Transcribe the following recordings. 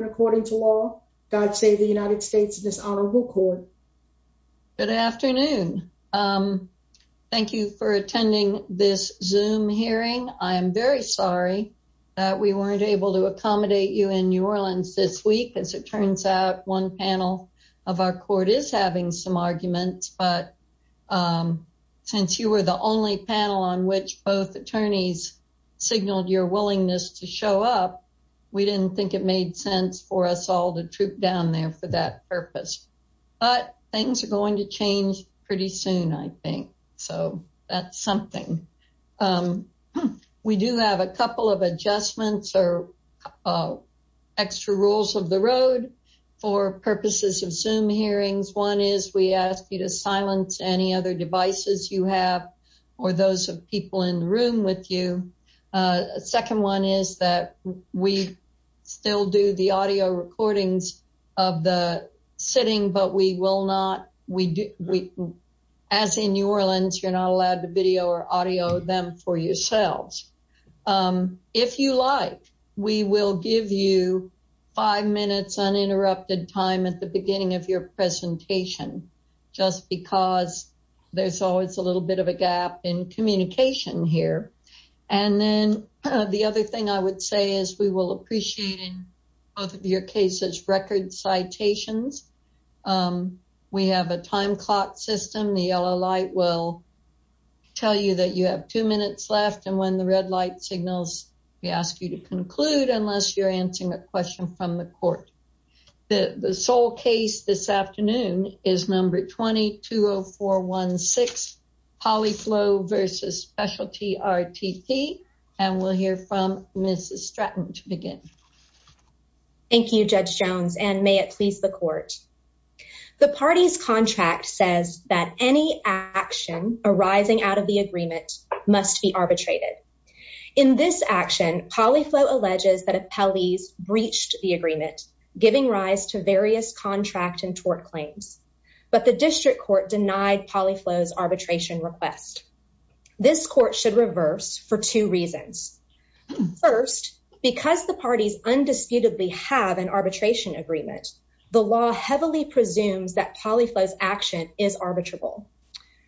According to law, God save the United States dishonorable court. Good afternoon. Thank you for attending this zoom hearing. I'm very sorry that we weren't able to accommodate you in New Orleans this week. As it turns out, one panel of our court is having some arguments. But since you were the only panel on which both attorneys signaled your willingness to show up, we didn't think it made sense for us all to troop down there for that purpose. But things are going to change pretty soon, I think. So that's something. We do have a couple of adjustments or extra rules of the road for purposes of zoom hearings. One is we ask you to silence any other devices you have or those of people in the room with you. Second one is that we still do the audio recordings of the sitting, but we will not. As in New Orleans, you're not allowed to video or audio them for yourselves. If you like, we will give you five minutes uninterrupted time at the beginning of your presentation, just because there's always a little bit of a gap in communication here. And then the other thing I would say is we will appreciate in both of your cases record citations. We have a time clock system. The yellow light will tell you that you have two minutes left. And when the red light signals, we ask you to conclude unless you're answering a question from the court. The sole case this afternoon is number 220416, Polyflow versus Specialty RTP. And we'll hear from Mrs. Stratton to begin. Thank you, Judge Jones, and may it please the court. The party's contract says that any action arising out of the agreement must be arbitrated. In this action, Polyflow alleges that appellees breached the agreement, giving rise to various contract and tort claims. But the district court denied Polyflow's arbitration request. This court should reverse for two reasons. First, because the parties undisputedly have an arbitration agreement, the law heavily presumes that Polyflow's action is arbitrable.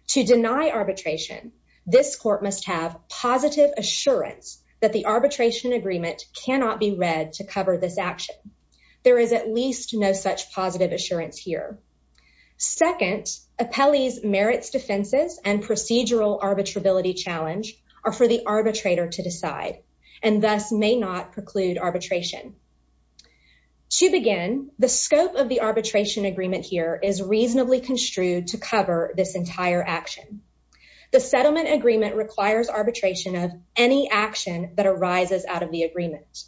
To deny arbitration, this court must have positive assurance that the arbitration agreement cannot be read to cover this action. There is at least no such positive assurance here. Second, appellees merits defenses and procedural arbitrability challenge are for the arbitrator to decide and thus may not preclude arbitration. To begin, the scope of the arbitration agreement here is reasonably construed to cover this entire action. The settlement agreement requires arbitration of any action that arises out of the agreement.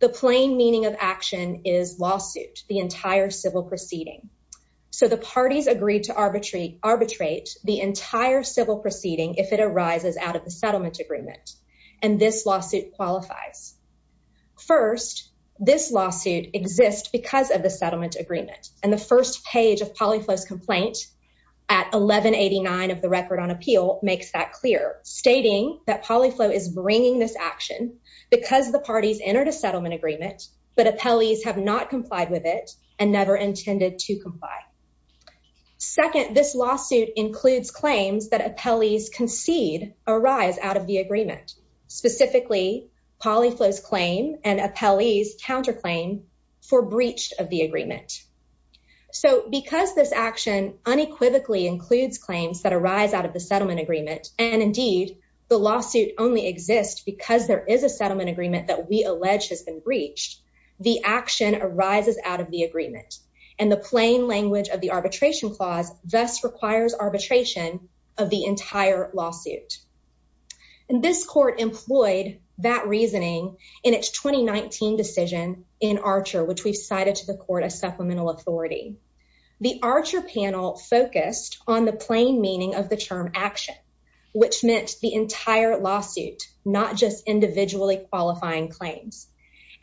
The plain meaning of action is lawsuit, the entire civil proceeding. So the parties agreed to arbitrate the entire civil proceeding if it arises out of the settlement agreement. And this lawsuit qualifies. First, this lawsuit exists because of the settlement agreement. And the first page of Polyflow's complaint at 1189 of the record on appeal makes that clear, stating that Polyflow is bringing this action because the parties entered a settlement agreement, but appellees have not complied with it and never intended to comply. Second, this lawsuit includes claims that appellees concede arise out of the agreement, specifically Polyflow's claim and appellees counterclaim for breach of the agreement. So because this action unequivocally includes claims that arise out of the settlement agreement, and indeed, the lawsuit only exists because there is a settlement agreement that we allege has been breached, the action arises out of the agreement. And the plain language of the arbitration clause thus requires arbitration of the entire lawsuit. And this court employed that reasoning in its 2019 decision in Archer, which we've cited to the court as supplemental authority. The Archer panel focused on the plain meaning of the term action, which meant the entire lawsuit, not just individually qualifying claims.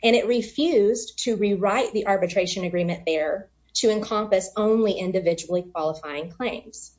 And it refused to rewrite the arbitration agreement there to encompass only individually qualifying claims.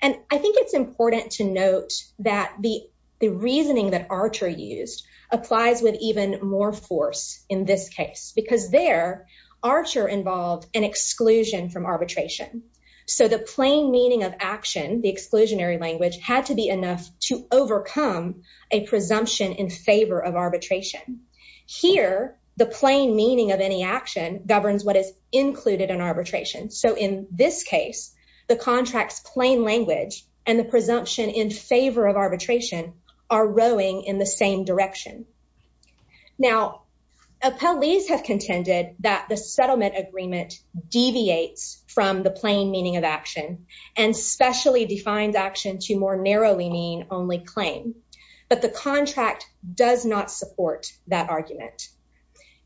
And I think it's important to note that the reasoning that Archer used applies with even more force in this case, because there, Archer involved an exclusion from arbitration. So the plain meaning of action, the exclusionary language had to be enough to overcome a presumption in favor of arbitration. Here, the plain meaning of any action governs what is included in arbitration. So in this case, the contract's plain language and the presumption in favor of arbitration are rowing in the same direction. Now, appellees have contended that the settlement agreement deviates from the plain meaning of action and specially defines action to more narrowly mean only claim. But the contract does not support that argument.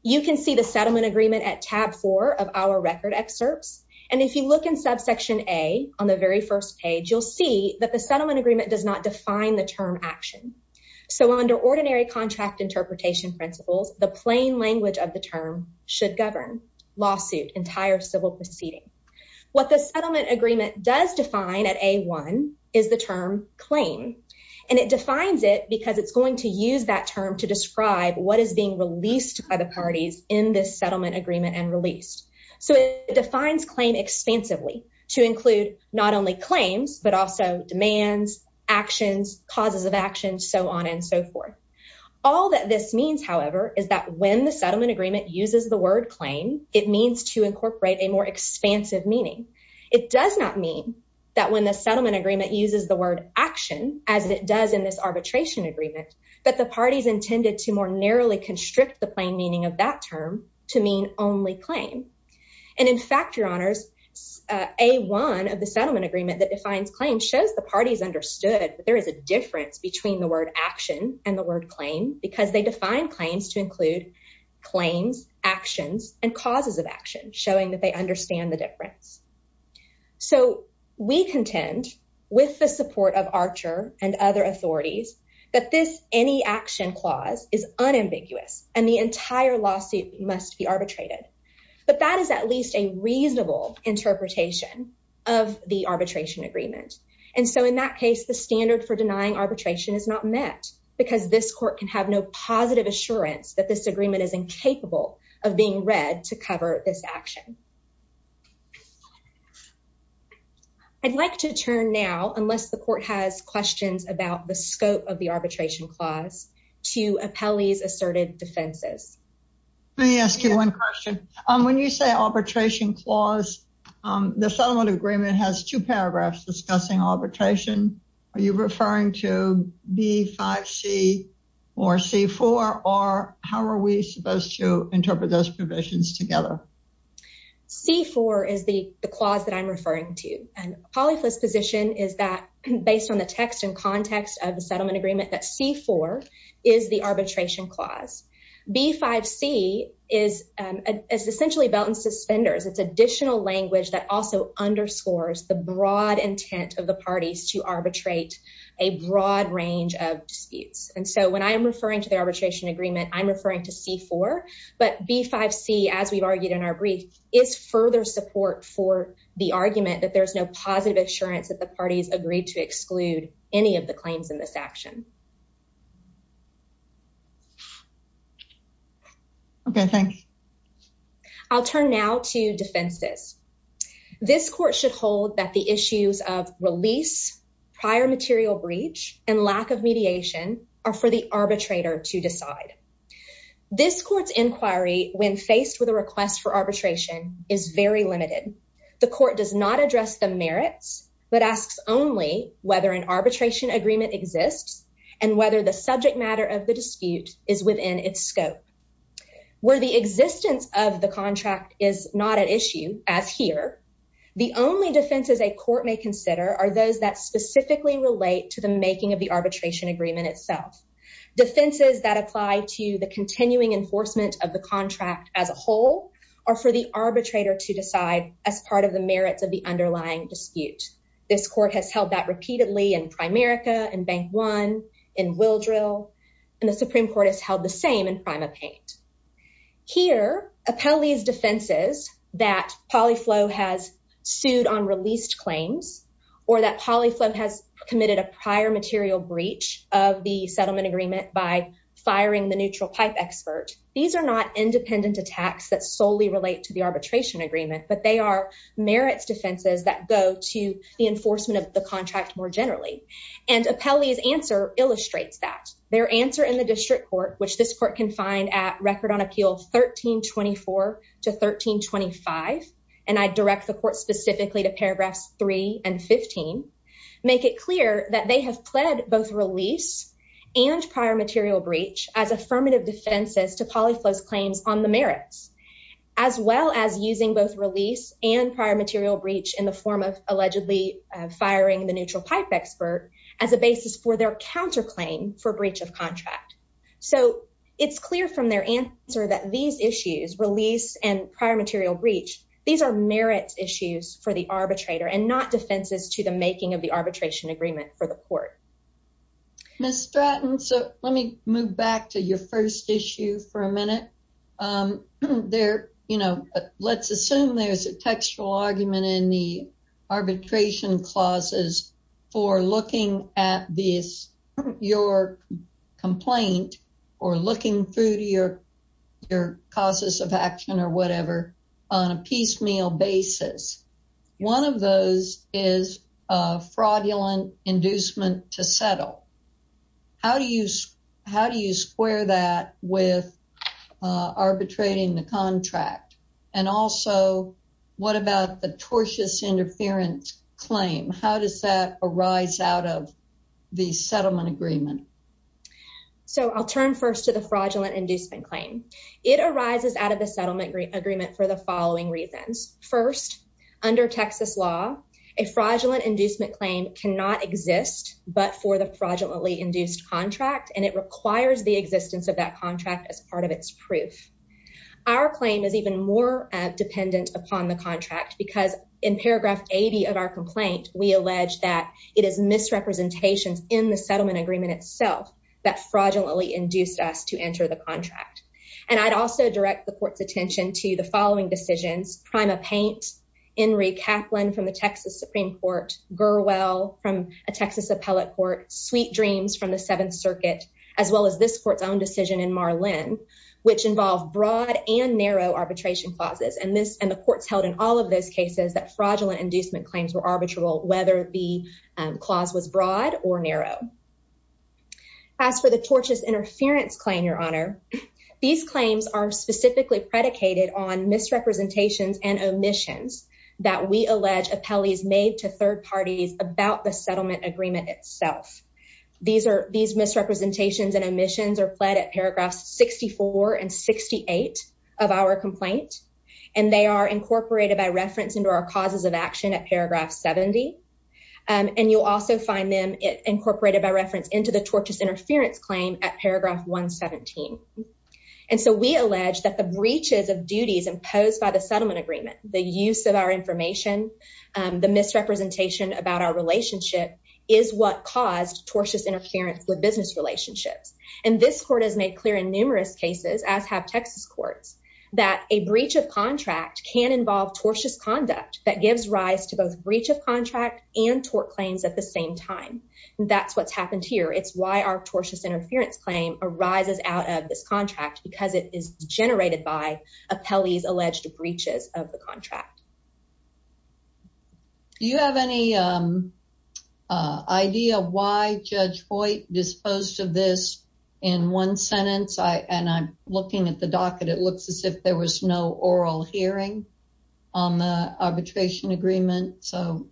You can see the settlement agreement at tab four of our record excerpts. And if you look in subsection A on the very first page, you'll see that the settlement agreement does not define the term action. So under ordinary contract interpretation principles, the plain language of the term should govern lawsuit, entire civil proceeding. What the settlement agreement does define at A1 is the term claim. And it defines it because it's going to use that term to describe what is being released by the parties in this settlement agreement and released. So it defines claim expansively to include not only claims, but also when the settlement agreement uses the word claim, it means to incorporate a more expansive meaning. It does not mean that when the settlement agreement uses the word action as it does in this arbitration agreement, but the parties intended to more narrowly constrict the plain meaning of that term to mean only claim. And in fact, your honors, A1 of the settlement agreement that defines claim shows the parties understood that there is a difference between the word action and the word claim because they define claims to include claims, actions, and causes of action, showing that they understand the difference. So we contend with the support of Archer and other authorities that this any action clause is unambiguous and the entire lawsuit must be arbitrated. But that is at least a reasonable interpretation of the arbitration agreement. And so in that case, the standard for denying arbitration is not met because this court can have no positive assurance that this agreement is incapable of being read to cover this action. I'd like to turn now, unless the court has questions about the scope of the arbitration clause to appellees asserted defenses. Let me ask you one question. When you say arbitration clause, the settlement agreement has two paragraphs discussing arbitration. Are you referring to B5C or C4? Or how are we supposed to interpret those provisions together? C4 is the clause that I'm referring to. And Polly's position is that based on the text and context of the settlement agreement, that C4 is the arbitration clause. B5C is essentially belt and suspenders. It's additional language that also underscores the broad intent of the parties to arbitrate a broad range of disputes. And so when I am referring to the arbitration agreement, I'm referring to C4. But B5C, as we've argued in our brief, is further support for the argument that there's no positive assurance that the parties agreed to exclude any of the claims in this action. Okay, thanks. I'll turn now to defenses. This court should hold that the issues of release, prior material breach, and lack of mediation are for the arbitrator to decide. This court's inquiry, when faced with a request for arbitration, is very limited. The court does not address the merits, but asks only whether an arbitration agreement exists and whether the subject matter of the dispute is within its scope. Where the existence of the contract is not an issue, as here, the only defenses a court may consider are those that specifically relate to the making of the arbitration agreement itself. Defenses that apply to the continuing enforcement of the contract as a whole are for the arbitrator to decide as part of the merits of the underlying dispute. This court has held that repeatedly in Primerica, in Bank One, in Willdrill, and the Supreme Court has held the same in PrimaPaint. Here, Appelli's defenses that PolyFlow has sued on released claims, or that PolyFlow has committed a prior material breach of the settlement agreement by firing the neutral pipe expert, these are not independent attacks that solely relate to the arbitration agreement, but they are merits defenses that go to the enforcement of the contract more generally. And Appelli's answer illustrates that. Their answer in the district court, which this court can find at Record on Appeal 1324 to 1325, and I direct the court prior material breach as affirmative defenses to PolyFlow's claims on the merits, as well as using both release and prior material breach in the form of allegedly firing the neutral pipe expert as a basis for their counterclaim for breach of contract. So, it's clear from their answer that these issues, release and prior material breach, these are merits issues for the arbitrator and not defenses to the making of the arbitration agreement for the court. Ms. Stratton, so let me move back to your first issue for a minute. There, you know, let's assume there's a textual argument in the arbitration clauses for looking at this, your complaint, or looking through to your causes of action or whatever on a piecemeal basis. One of those is a fraudulent inducement to settle. How do you square that with arbitrating the contract? And also, what about the tortious interference claim? How does that arise out of the settlement agreement? So, I'll turn first to the fraudulent inducement claim. It arises out of the settlement agreement for the following reasons. First, under Texas law, a fraudulent inducement claim cannot exist but for the fraudulently induced contract, and it requires the existence of that contract as part of its proof. Our claim is even more dependent upon the contract because in paragraph 80 of our complaint, we allege that it is misrepresentations in the settlement agreement itself that fraudulently induced us to enter the contract. And I'd also direct the court's attention to the following decisions, Prima Paint, Henry Kaplan from the Texas Supreme Court, Gurwell from a Texas appellate court, Sweet Dreams from the Seventh Circuit, as well as this court's own decision in Marlin, which involve broad and narrow arbitration clauses. And the courts held in all of those cases that fraudulent inducement claims were arbitral, whether the clause was broad or narrow. As for the tortious interference claim, Your Honor, these claims are specifically predicated on misrepresentations and omissions that we allege appellees made to third parties about the settlement agreement itself. These misrepresentations and omissions are pled at paragraphs 64 and 68 of our complaint, and they are incorporated by reference into our causes of action at paragraph 70. And you'll also find them incorporated by reference into the tortious breaches of duties imposed by the settlement agreement. The use of our information, the misrepresentation about our relationship is what caused tortious interference with business relationships. And this court has made clear in numerous cases, as have Texas courts, that a breach of contract can involve tortious conduct that gives rise to both breach of contract and tort claims at the same time. That's what's happened here. It's why our tortious interference claim arises out of this contract, because it is generated by appellees alleged breaches of the contract. Do you have any idea why Judge Hoyt disposed of this in one sentence? And I'm looking at the docket. It looks as if there was no oral hearing on the arbitration agreement. So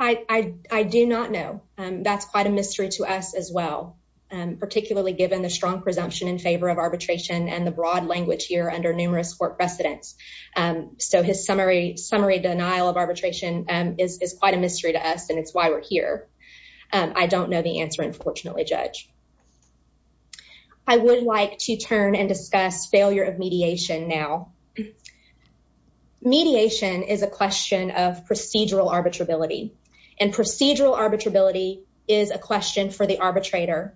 I do not know. That's quite a mystery to us as well, particularly given the strong presumption in favor of arbitration and the broad language here under numerous court precedents. So his summary denial of arbitration is quite a mystery to us, and it's why we're here. I don't know the answer, unfortunately, Judge. I would like to turn and discuss failure of mediation now. Mediation is a question for the arbitrator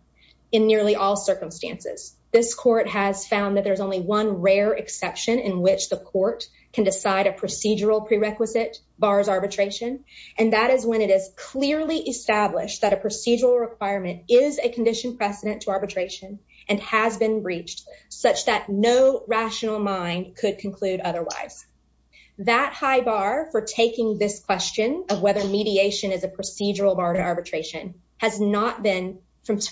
in nearly all circumstances. This court has found that there's only one rare exception in which the court can decide a procedural prerequisite bars arbitration, and that is when it is clearly established that a procedural requirement is a condition precedent to arbitration and has been breached such that no rational mind could conclude otherwise. That high bar for taking this question of whether mediation is a procedural bar to arbitration has not been,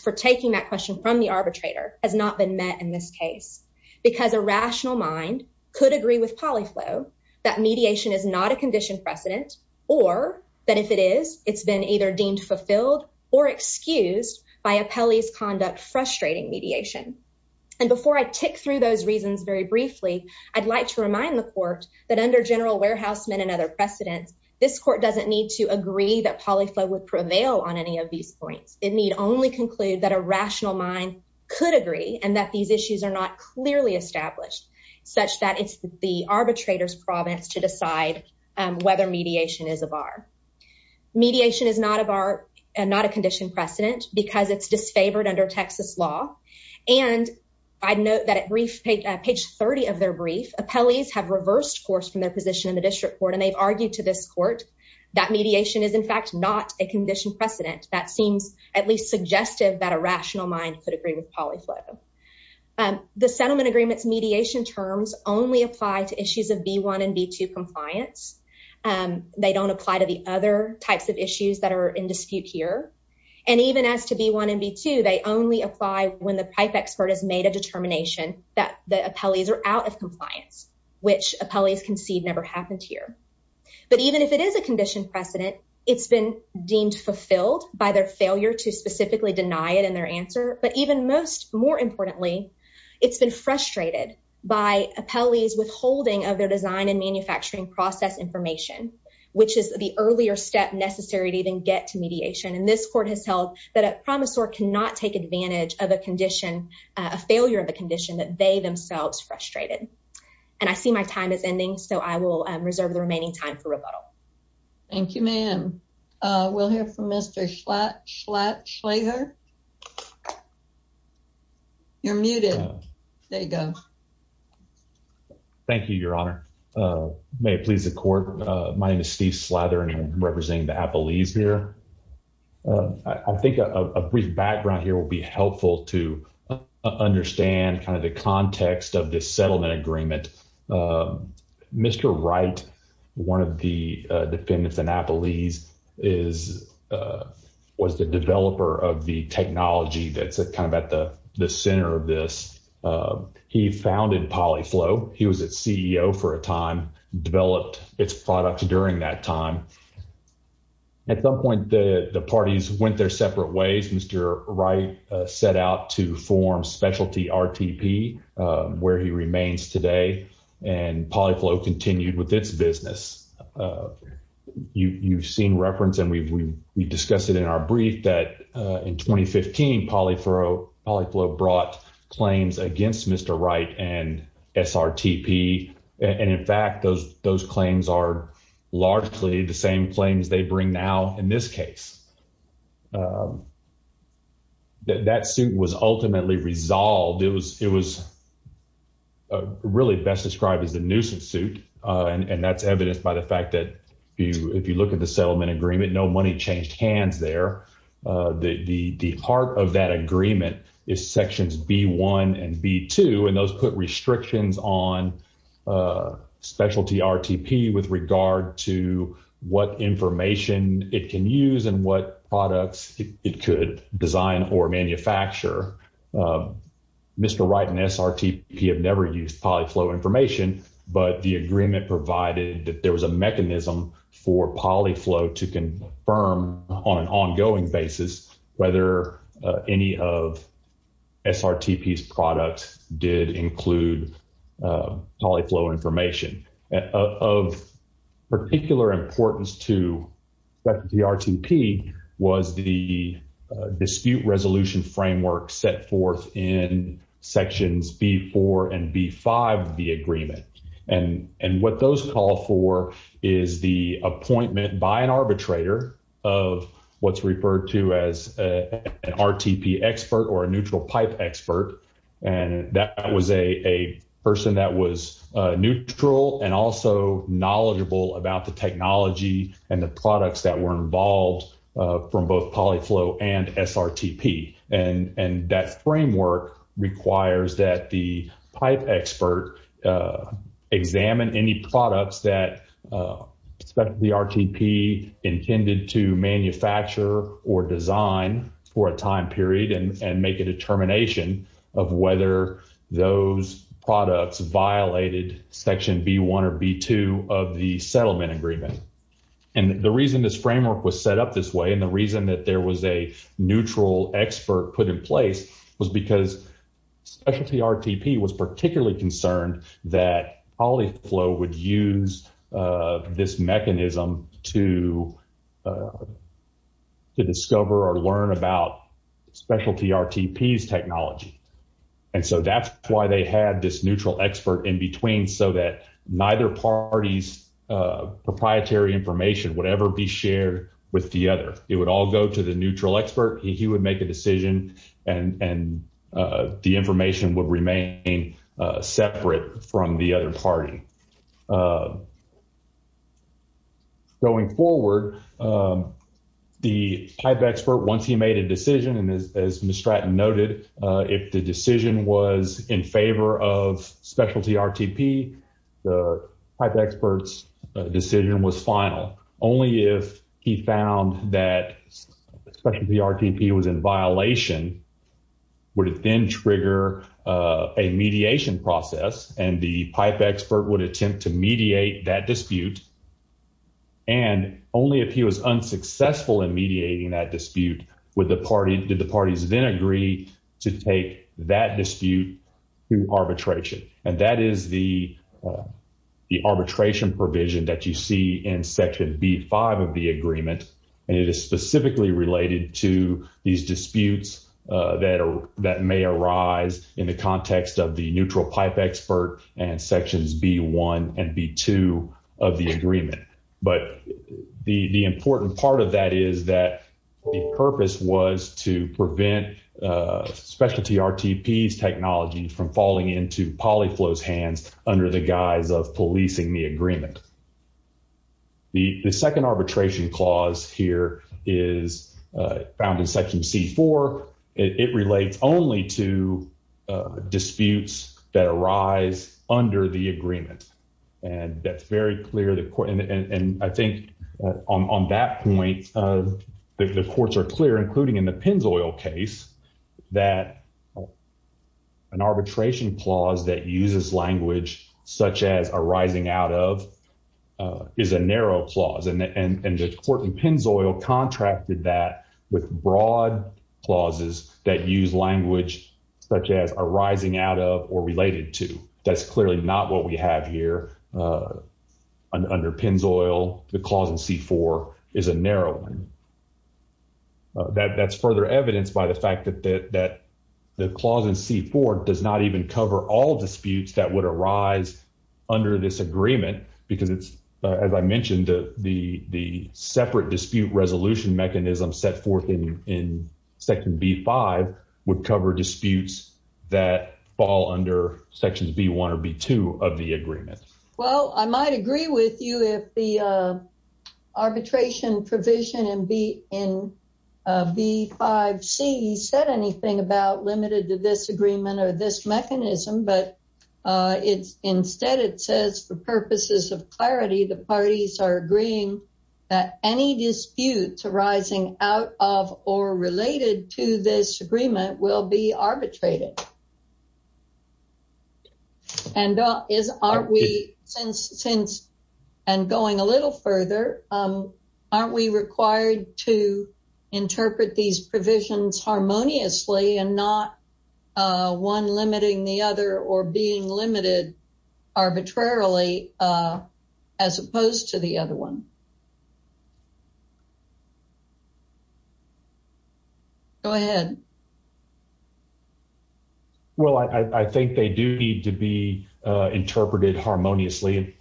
for taking that question from the arbitrator, has not been met in this case because a rational mind could agree with Polyflow that mediation is not a condition precedent or that if it is, it's been either deemed fulfilled or excused by a Pelley's conduct frustrating mediation. And before I tick through those reasons very briefly, I'd like to remind the court that under General Warehouseman and other precedents, this court doesn't need to agree that Polyflow would prevail on any of these points. It need only conclude that a rational mind could agree and that these issues are not clearly established such that it's the arbitrator's province to decide whether mediation is a bar. Mediation is not a condition precedent because it's disfavored under Texas law and I'd note that at brief page 30 of their brief, appellees have reversed course from their position in the district court and they've argued to this court that mediation is in fact not a condition precedent. That seems at least suggestive that a rational mind could agree with Polyflow. The settlement agreement's mediation terms only apply to issues of B1 and B2 compliance. They don't apply to the other types of issues that are in dispute here and even as to B1 and B2, they only apply when the pipe expert has made a determination that the appellees are out of compliance, which appellees concede never happened here. But even if it is a condition precedent, it's been deemed fulfilled by their failure to specifically deny it in their answer. But even most more importantly, it's been frustrated by appellees withholding of their design and manufacturing process information, which is the earlier step necessary to even get to mediation. This court has held that a promisor cannot take advantage of a condition, a failure of a condition that they themselves frustrated. I see my time is ending, so I will reserve the remaining time for rebuttal. Thank you, ma'am. We'll hear from Mr. Schlatter. You're muted. There you go. Thank you, your honor. May it please the court. My name is Steve Slather and I'm representing the appellees here. I think a brief background here will be helpful to understand kind of the context of this settlement agreement. Mr. Wright, one of the defendants in appellees, was the developer of the technology that's kind of at the center of this. He founded PolyFlow. He was its CEO for a time, developed its products during that time. At some point, the parties went their separate ways. Mr. Wright set out to form Specialty RTP, where he remains today, and PolyFlow continued with its business. You've seen reference, and we've discussed it in our brief, that in 2015, PolyFlow brought claims against Mr. Wright and SRTP, and in fact, those claims are largely the same claims they bring now in this case. That suit was ultimately resolved. It was really best described as a nuisance suit, and that's evidenced by the fact that if you look at the settlement agreement, no money changed hands there. The heart of that agreement is sections B-1 and B-2, and those put restrictions on Specialty RTP with regard to what information it can use and what products it could design or manufacture. Mr. Wright and SRTP have never used PolyFlow information, but the agreement provided that there was a mechanism for PolyFlow to confirm on an ongoing basis whether any of SRTP's products did include PolyFlow information. Of particular importance to the RTP was the dispute resolution framework set forth in sections B-4 and B-5 of the agreement, and what those call for is the appointment by an arbitrator of what's referred to as an RTP expert or a neutral pipe expert, and that was a person that was neutral and also knowledgeable about the technology and the products that were involved from both PolyFlow and SRTP, and that framework requires that the pipe expert examine any products that the RTP intended to manufacture or design for a time period and make a determination of whether those products violated section B-1 or B-2 of the settlement agreement, and the reason this framework was set up this way and the reason that there was a neutral expert put in place was because Specialty RTP was particularly concerned that PolyFlow would use this mechanism to discover or learn about Specialty RTP's technology, and so that's why they had this neutral expert in between so that neither party's proprietary information would ever be shared with the other. It would all go to the neutral expert. He would make a decision, and the information would remain separate from the other party. Going forward, the pipe expert, once he made a decision, and as Miss Stratton noted, if the decision was in favor of Specialty RTP, the pipe expert's decision was final. Only if he found that Specialty RTP was in violation would it then trigger a mediation process, and the pipe expert would attempt to mediate that dispute, and only if he was unsuccessful in mediating that dispute did the parties then agree to take that dispute to arbitration, and that is the arbitration provision that you see in section B-5 of the agreement, and it is specifically related to these disputes that may arise in the context of the neutral pipe expert and sections B-1 and B-2 of the agreement, but the important part of that is that the under the guise of policing the agreement. The second arbitration clause here is found in section C-4. It relates only to disputes that arise under the agreement, and that's very clear. I think on that point, the courts are clear, including in the Pennzoil case, that an arbitration clause that uses language such as arising out of is a narrow clause, and the court in Pennzoil contracted that with broad clauses that use language such as arising out of or related to. That's clearly not what we have here under Pennzoil. The clause in C-4 is a narrow one. That's further evidenced by the fact that the clause in C-4 does not even cover all disputes that would arise under this agreement because it's, as I mentioned, the separate dispute resolution mechanism set forth in section B-5 would cover disputes that fall under sections B-1 or B-2 of the agreement. Well, I might agree with you if the provision in B-5C said anything about limited to this agreement or this mechanism, but instead it says, for purposes of clarity, the parties are agreeing that any disputes arising out of or related to this agreement will be arbitrated. Thank you. And going a little further, aren't we required to interpret these provisions harmoniously and not one limiting the other or being limited arbitrarily as opposed to the other one? Go ahead. Well, I think they do need to be interpreted harmoniously.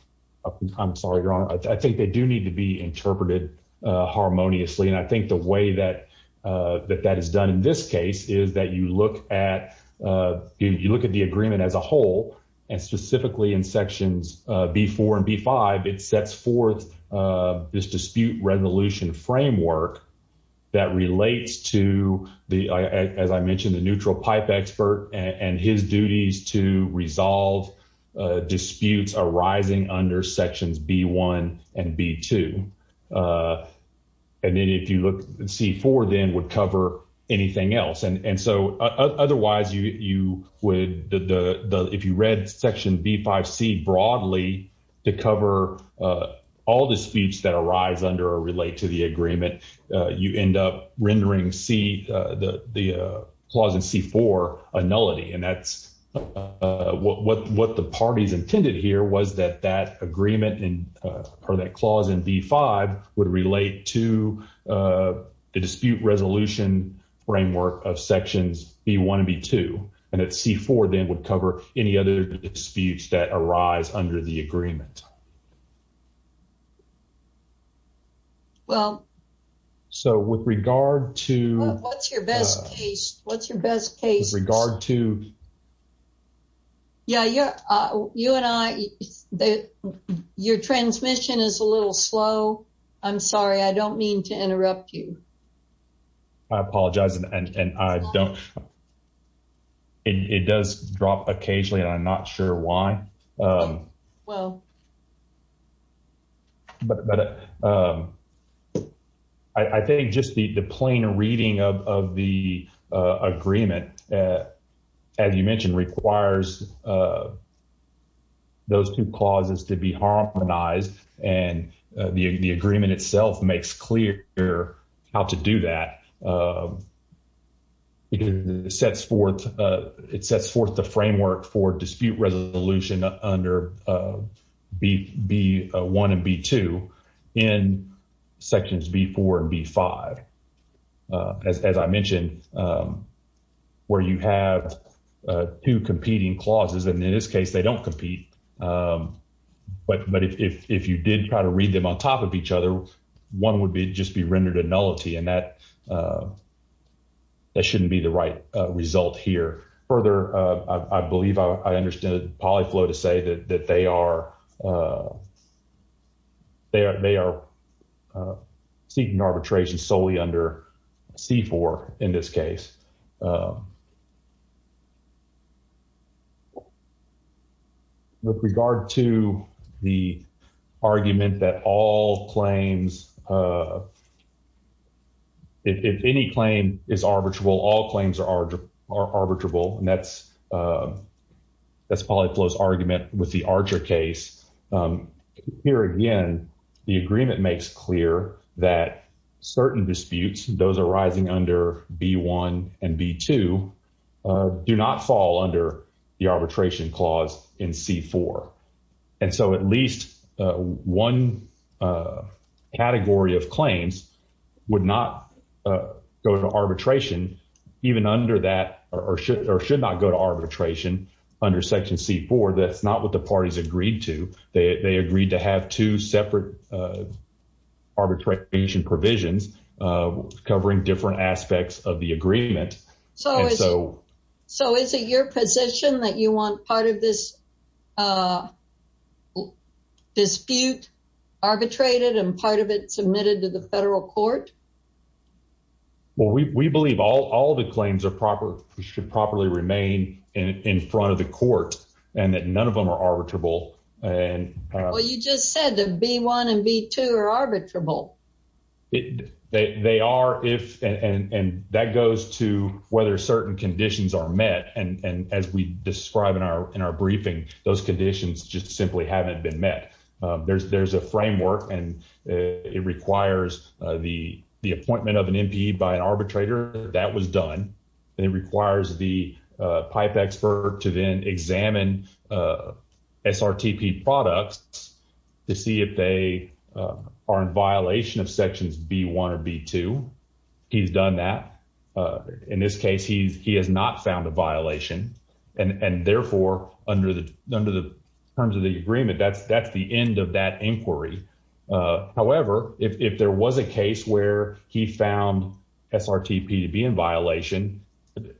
I'm sorry, Your Honor. I think they do need to be interpreted harmoniously, and I think the way that that is done in this case is that you look at the agreement as a whole, and specifically in sections B-4 and B-5, it sets forth this dispute resolution framework that relates to, as I mentioned, the neutral pipe expert and his duties to resolve disputes arising under sections B-1 and B-2. And then if you look, C-4 then would cover anything else. And so, otherwise, if you read section B-5C broadly to cover all disputes that arise under or relate to the agreement, you end up rendering the clause in C-4 a nullity. And that's what the parties intended here was that that agreement or that clause in B-5 would relate to the dispute resolution framework of disputes that arise under the agreement. Well. So, with regard to. What's your best case? What's your best case? With regard to. Yeah, you and I, your transmission is a little slow. I'm sorry. I don't mean to interrupt you. I apologize, and I don't. It does drop occasionally, and I'm not sure why. Well. But I think just the plain reading of the agreement, as you mentioned, requires those two clauses to be harmonized, and the agreement itself makes clear how to do that. It sets forth the framework for dispute resolution under B-1 and B-2 in sections B-4 and B-5. As I mentioned, where you have two competing clauses, and in this case, they don't compete. But if you did try to read them on top of each other, one would just be rendered a nullity, and that shouldn't be the right result here. Further, I believe I understand Polyflow to say that they are seeking arbitration solely under C-4 in this case. With regard to the argument that all claims, if any claim is arbitrable, all claims are arbitrable, and that's Polyflow's argument with the Archer case. Here again, the agreement makes clear that certain disputes, those arising under B-1 and B-2, do not fall under the arbitration clause in C-4. And so at least one category of claims would not go to arbitration even under that, or should not go to arbitration under section C-4. That's not what the parties agreed to. They agreed to have two separate arbitration provisions covering different aspects of the agreement. So is it your position that you want part of this dispute arbitrated and part of it submitted to the federal court? Well, we believe all the claims should properly remain in front of the court, and that none of them are arbitrable. Well, you just said that B-1 and B-2 are arbitrable. They are, and that goes to whether certain conditions are met. And as we describe in our briefing, those conditions just simply haven't been met. There's a framework, and it requires the appointment of an MPE by an arbitrator. That was done. It requires the pipe expert to then examine SRTP products to see if they are in violation of sections B-1 or B-2. He's done that. In this case, he has not found a violation. And therefore, under the terms of the agreement, that's the end of that inquiry. However, if there was a case where he found SRTP to be in violation,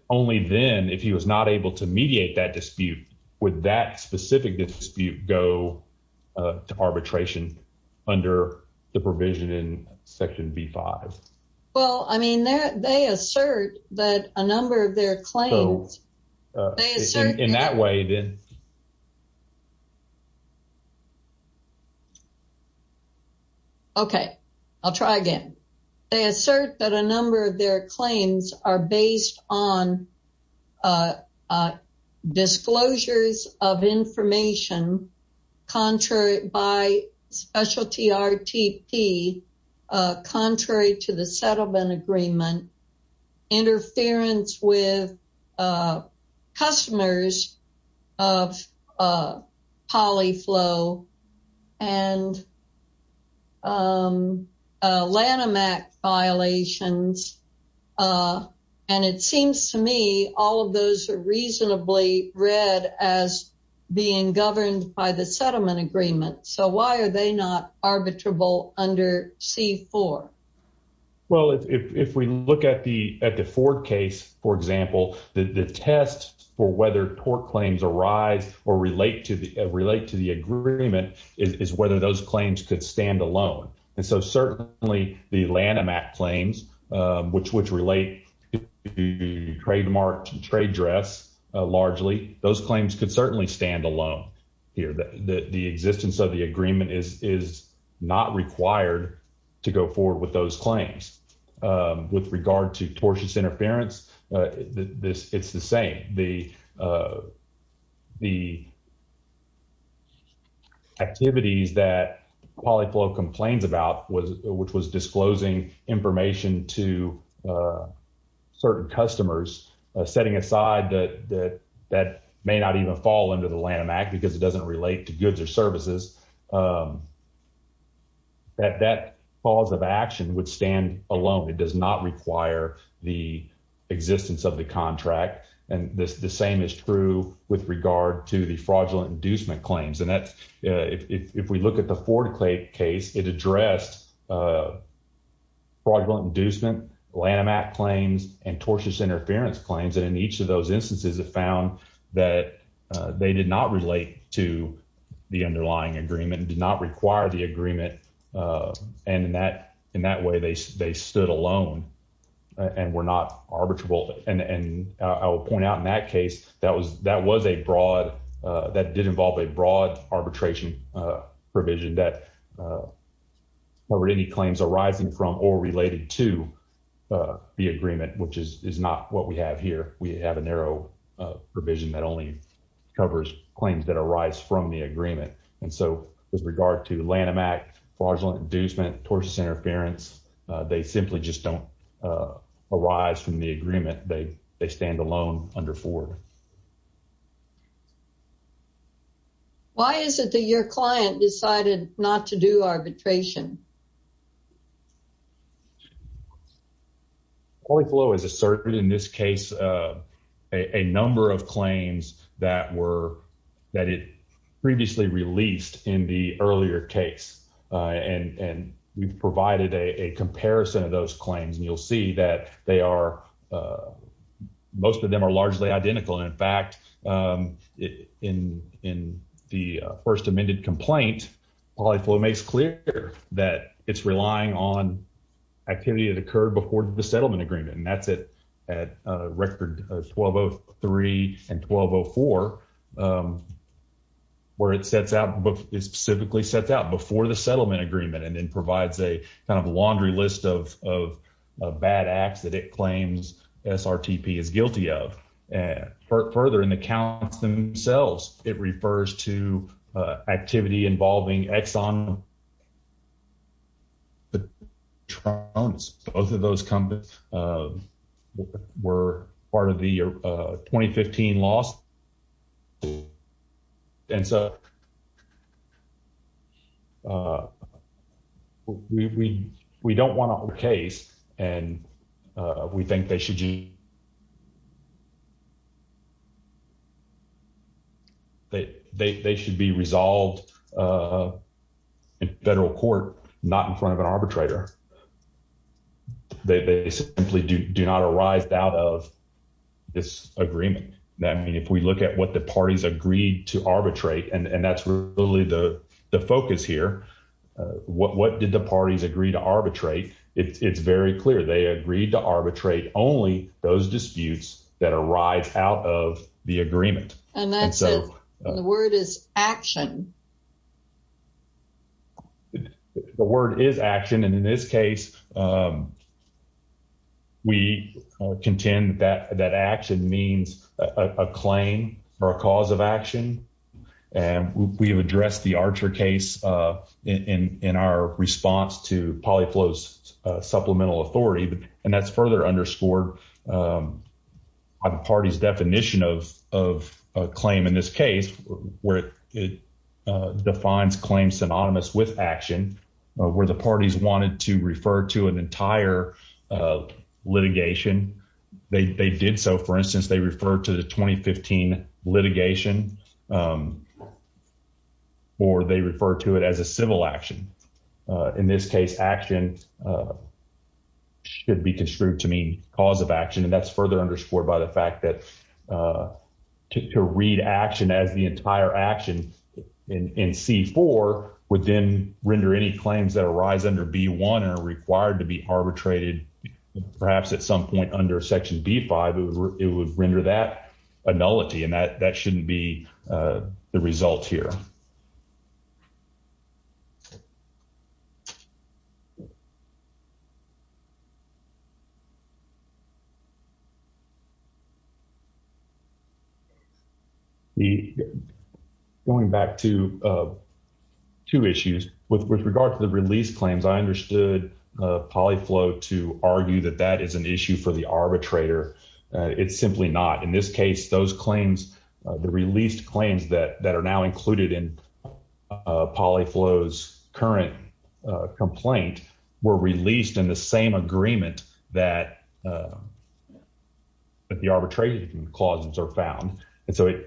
only then, if he was not able to mediate that dispute, would that specific dispute go to arbitration under the provision in section B-5? Well, I mean, they assert that a number of their claims are based on disclosures of information by specialty RTP contrary to the settlement agreement, interference with customers of Polyflow and Lanham Act violations. And it seems to me all of those are reasonably read as being governed by the settlement agreement. So why are they not arbitrable under C-4? Well, if we look at the Ford case, for example, the test for whether tort claims arise or relate to the agreement is whether those claims could stand alone. And so, certainly, the Lanham Act claims, which relate to trademark trade dress largely, those claims could certainly stand alone here. The existence of the agreement is not required to go forward with those claims. With regard to tortious interference, it's the same. The activities that Polyflow complains about, which was disclosing information to certain customers, setting aside that that may not even fall under the Lanham Act because it doesn't relate to goods or services, that that pause of action would stand alone. It does not require the existence of the contract. And the same is true with regard to the fraudulent inducement claims. And if we look at the Ford case, it addressed fraudulent inducement, Lanham Act claims, and tortious interference claims. And in each of those instances, it found that they did not relate to the underlying agreement, did not require the agreement. And in that way, they stood alone and were not arbitrable. And I will point out in that case, that did involve a broad arbitration provision that covered any claims arising from or related to the agreement, which is not what we have here. We have a narrow provision that only covers claims that arise from the agreement. And so, with regard to Lanham Act, fraudulent inducement, tortious interference, they simply just don't arise from the agreement. They stand alone under Ford. Why is it that your client decided not to do arbitration? Ortho is a certain, in this case, a number of claims that were, that it previously released in the earlier case. And we've provided a comparison of those claims. And you'll see that most of them are largely identical. In fact, in the first amended complaint, Polyflow makes clear that it's relying on activity that occurred before the settlement specifically sets out, before the settlement agreement, and then provides a kind of laundry list of bad acts that it claims SRTP is guilty of. And further, in the counts themselves, it refers to activity involving Exxon. Both of those were part of the 2015 loss. And so, we don't want a whole case, and we think they should be resolved in federal court, not in front of an arbitrator. They simply do not arise out of this agreement. I mean, if we look at what the parties agreed to arbitrate, and that's really the focus here, what did the parties agree to arbitrate? It's very clear. They agreed to arbitrate only those disputes that arise out of the agreement. And that's the word is action. The word is action. And in this case, we contend that action means a claim or a cause of action. And we have addressed the Archer case in our response to Polyflow's supplemental authority. And that's further underscored by the party's definition of a claim in this case, where it defines claims synonymous with action, where the parties wanted to refer to an entire litigation. They did so. For instance, they refer to the 2015 litigation, or they refer to it as a civil action. In this case, action should be construed to mean cause of action. And that's further underscored by the fact that to read action as the entire action in C-4 would then render any claims that arise under B-1 are required to be arbitrated. Perhaps at some point under Section B-5, it would render that a nullity, and that shouldn't be the result here. The going back to two issues with regard to the release claims, I understood Polyflow to argue that that is an issue for the arbitrator. It's simply not. In this case, those claims, the released claims that are now included in Polyflow's current complaint were released in the same agreement that the arbitration clauses are found. And so,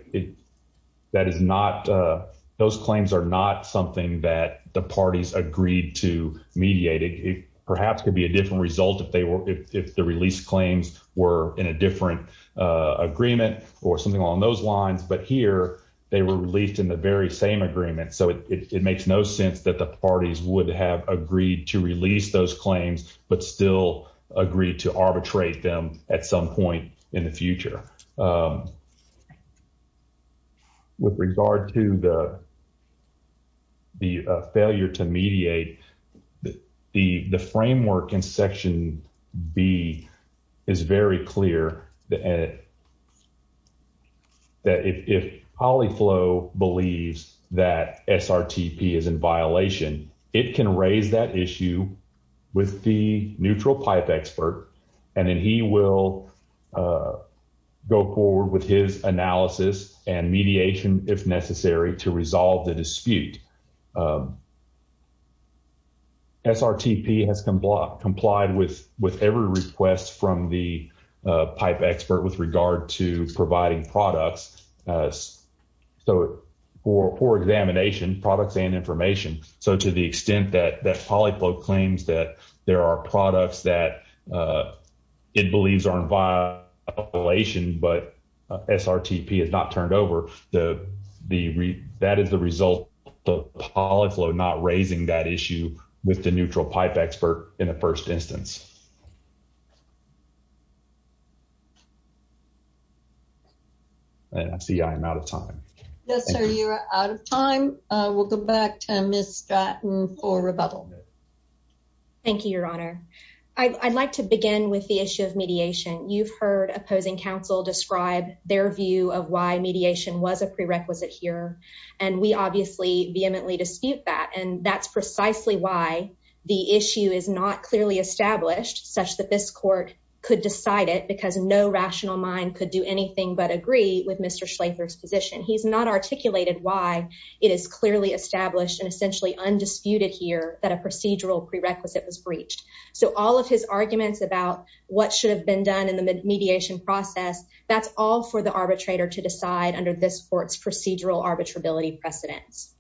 those claims are not something that the parties agreed to mediate. It perhaps could be a different result if the release claims were in a different agreement or something along those lines. But here, they were released in the very same agreement. So, it makes no sense that the parties would have agreed to release those claims, but still agree to arbitrate them at some point in the future. With regard to the failure to mediate, the framework in Section B is very clear that if Polyflow believes that SRTP is in violation, it can raise that issue with the neutral pipe expert, and then he will go forward with his analysis and mediation if necessary to resolve the dispute. SRTP has complied with every request from the pipe expert with regard to providing products. So, for examination, products and information. So, to the extent that Polyflow claims that there are products that it believes are in violation, but SRTP has not turned over, that is the result of Polyflow not raising that issue with the neutral pipe expert in the first instance. I see I am out of time. Yes, sir, you are out of time. We'll go back to Ms. Stratton for rebuttal. Thank you, Your Honor. I'd like to begin with the issue of mediation. You've heard opposing counsel describe their view of why mediation was a prerequisite here, and we obviously vehemently dispute that, and that's precisely why the issue is not clearly established such that this court could decide it because no rational mind could do anything but agree with Mr. Schlatter's position. He's not articulated why it is clearly established and essentially undisputed here that a procedural prerequisite was breached. So, all of his arguments about what should have been done in the mediation process, that's all for the arbitrator to decide under this court's procedural arbitrability precedence.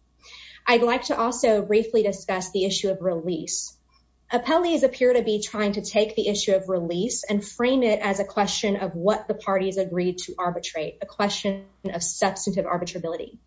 I'd like to also briefly discuss the issue of release. Appellees appear to be trying to take the issue of release and frame it as a question of what the parties agreed to arbitrate, a question of substantive arbitrability.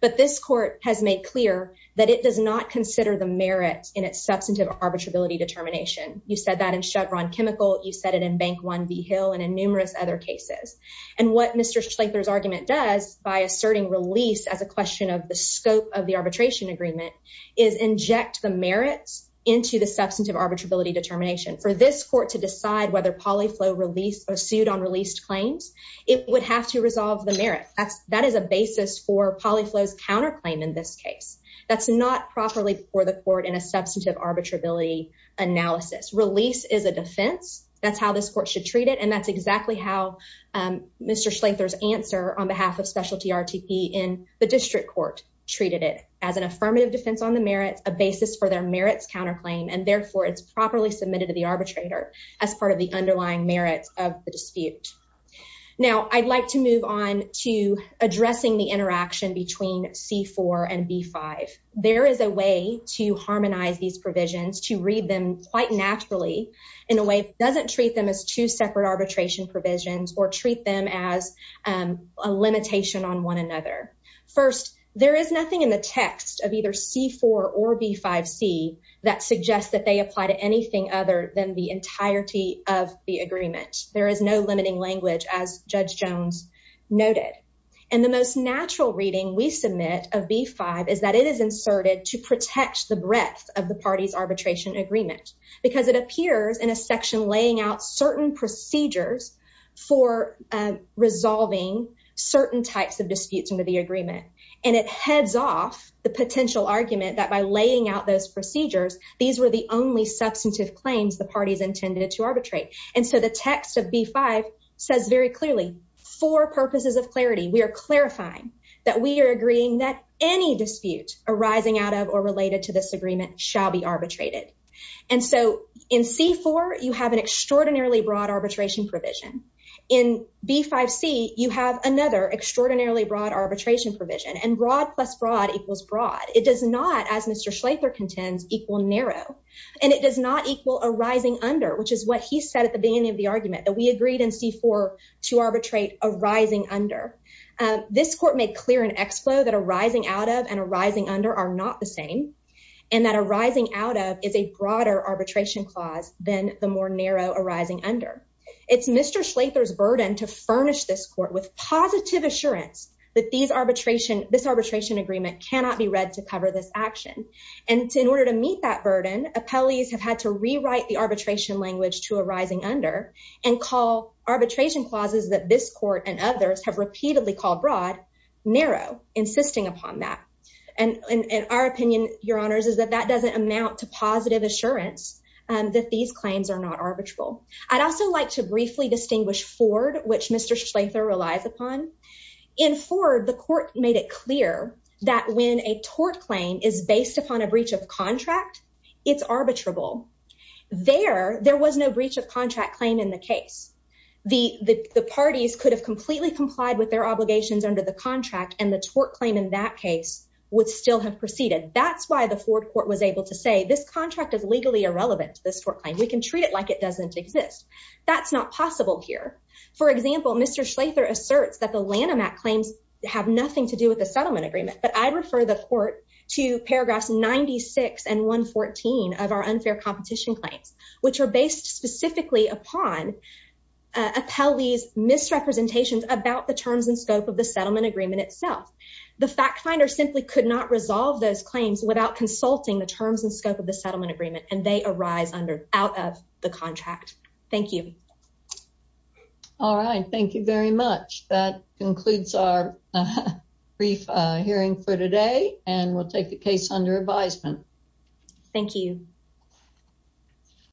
But this court has made clear that it does not consider the merit in its substantive arbitrability determination. You said that in Chevron Chemical, you said it in Bank One v. Hill, and in numerous other cases. And what Mr. Schlatter's argument does, by asserting release as a question of the scope of the arbitration agreement, is inject the merits into the substantive arbitrability determination. For this court to decide whether Polyflow sued on released claims, it would have to resolve the merit. That is a basis for the court in a substantive arbitrability analysis. Release is a defense. That's how this court should treat it, and that's exactly how Mr. Schlatter's answer on behalf of Specialty RTP in the district court treated it, as an affirmative defense on the merits, a basis for their merits counterclaim, and therefore, it's properly submitted to the arbitrator as part of the underlying merits of the dispute. Now, I'd like to move on to addressing the interaction between C4 and B5. There is a way to harmonize these provisions, to read them quite naturally, in a way that doesn't treat them as two separate arbitration provisions or treat them as a limitation on one another. First, there is nothing in the text of either C4 or B5C that suggests that they apply to anything other than the entirety of the agreement. There is no limiting language, as Judge Jones noted. And the most natural reading we submit of B5 is that it is inserted to protect the breadth of the party's arbitration agreement, because it appears in a section laying out certain procedures for resolving certain types of disputes under the agreement, and it heads off the potential argument that by laying out those procedures, these were the only substantive claims the clarifying that we are agreeing that any dispute arising out of or related to this agreement shall be arbitrated. And so, in C4, you have an extraordinarily broad arbitration provision. In B5C, you have another extraordinarily broad arbitration provision, and broad plus broad equals broad. It does not, as Mr. Schlegler contends, equal narrow, and it does not equal arising under, which is what he said at the beginning of the argument, that we agreed in C4 to arbitrate arising under. This court made clear in XFLOW that arising out of and arising under are not the same, and that arising out of is a broader arbitration clause than the more narrow arising under. It's Mr. Schlegler's burden to furnish this court with positive assurance that this arbitration agreement cannot be read to cover this action. And in order to meet that burden, appellees have had to rewrite the arbitration language to arising under and call arbitration clauses that this court and others have repeatedly called broad, narrow, insisting upon that. And our opinion, your honors, is that that doesn't amount to positive assurance that these claims are not arbitrable. I'd also like to briefly distinguish Ford, which Mr. Schlegler relies upon. In Ford, the court made it clear that when a tort claim is based upon a breach of contract, it's arbitrable. There, there was no breach of contract claim in the case. The parties could have completely complied with their obligations under the contract and the tort claim in that case would still have proceeded. That's why the Ford court was able to say this contract is legally irrelevant to this tort claim. We can treat it like it doesn't exist. That's not possible here. For example, Mr. Schlegler asserts that the Lanham Act claims have nothing to do with the settlement agreement, but I'd refer the court to paragraphs 96 and 114 of our unfair competition claims, which are based specifically upon appellee's misrepresentations about the terms and scope of the settlement agreement itself. The fact finder simply could not resolve those claims without consulting the terms and scope of the settlement agreement, and they arise under, out of the contract. Thank you. All right. Thank you very much. That concludes our brief hearing for today, and we'll take the case under advisement. Thank you.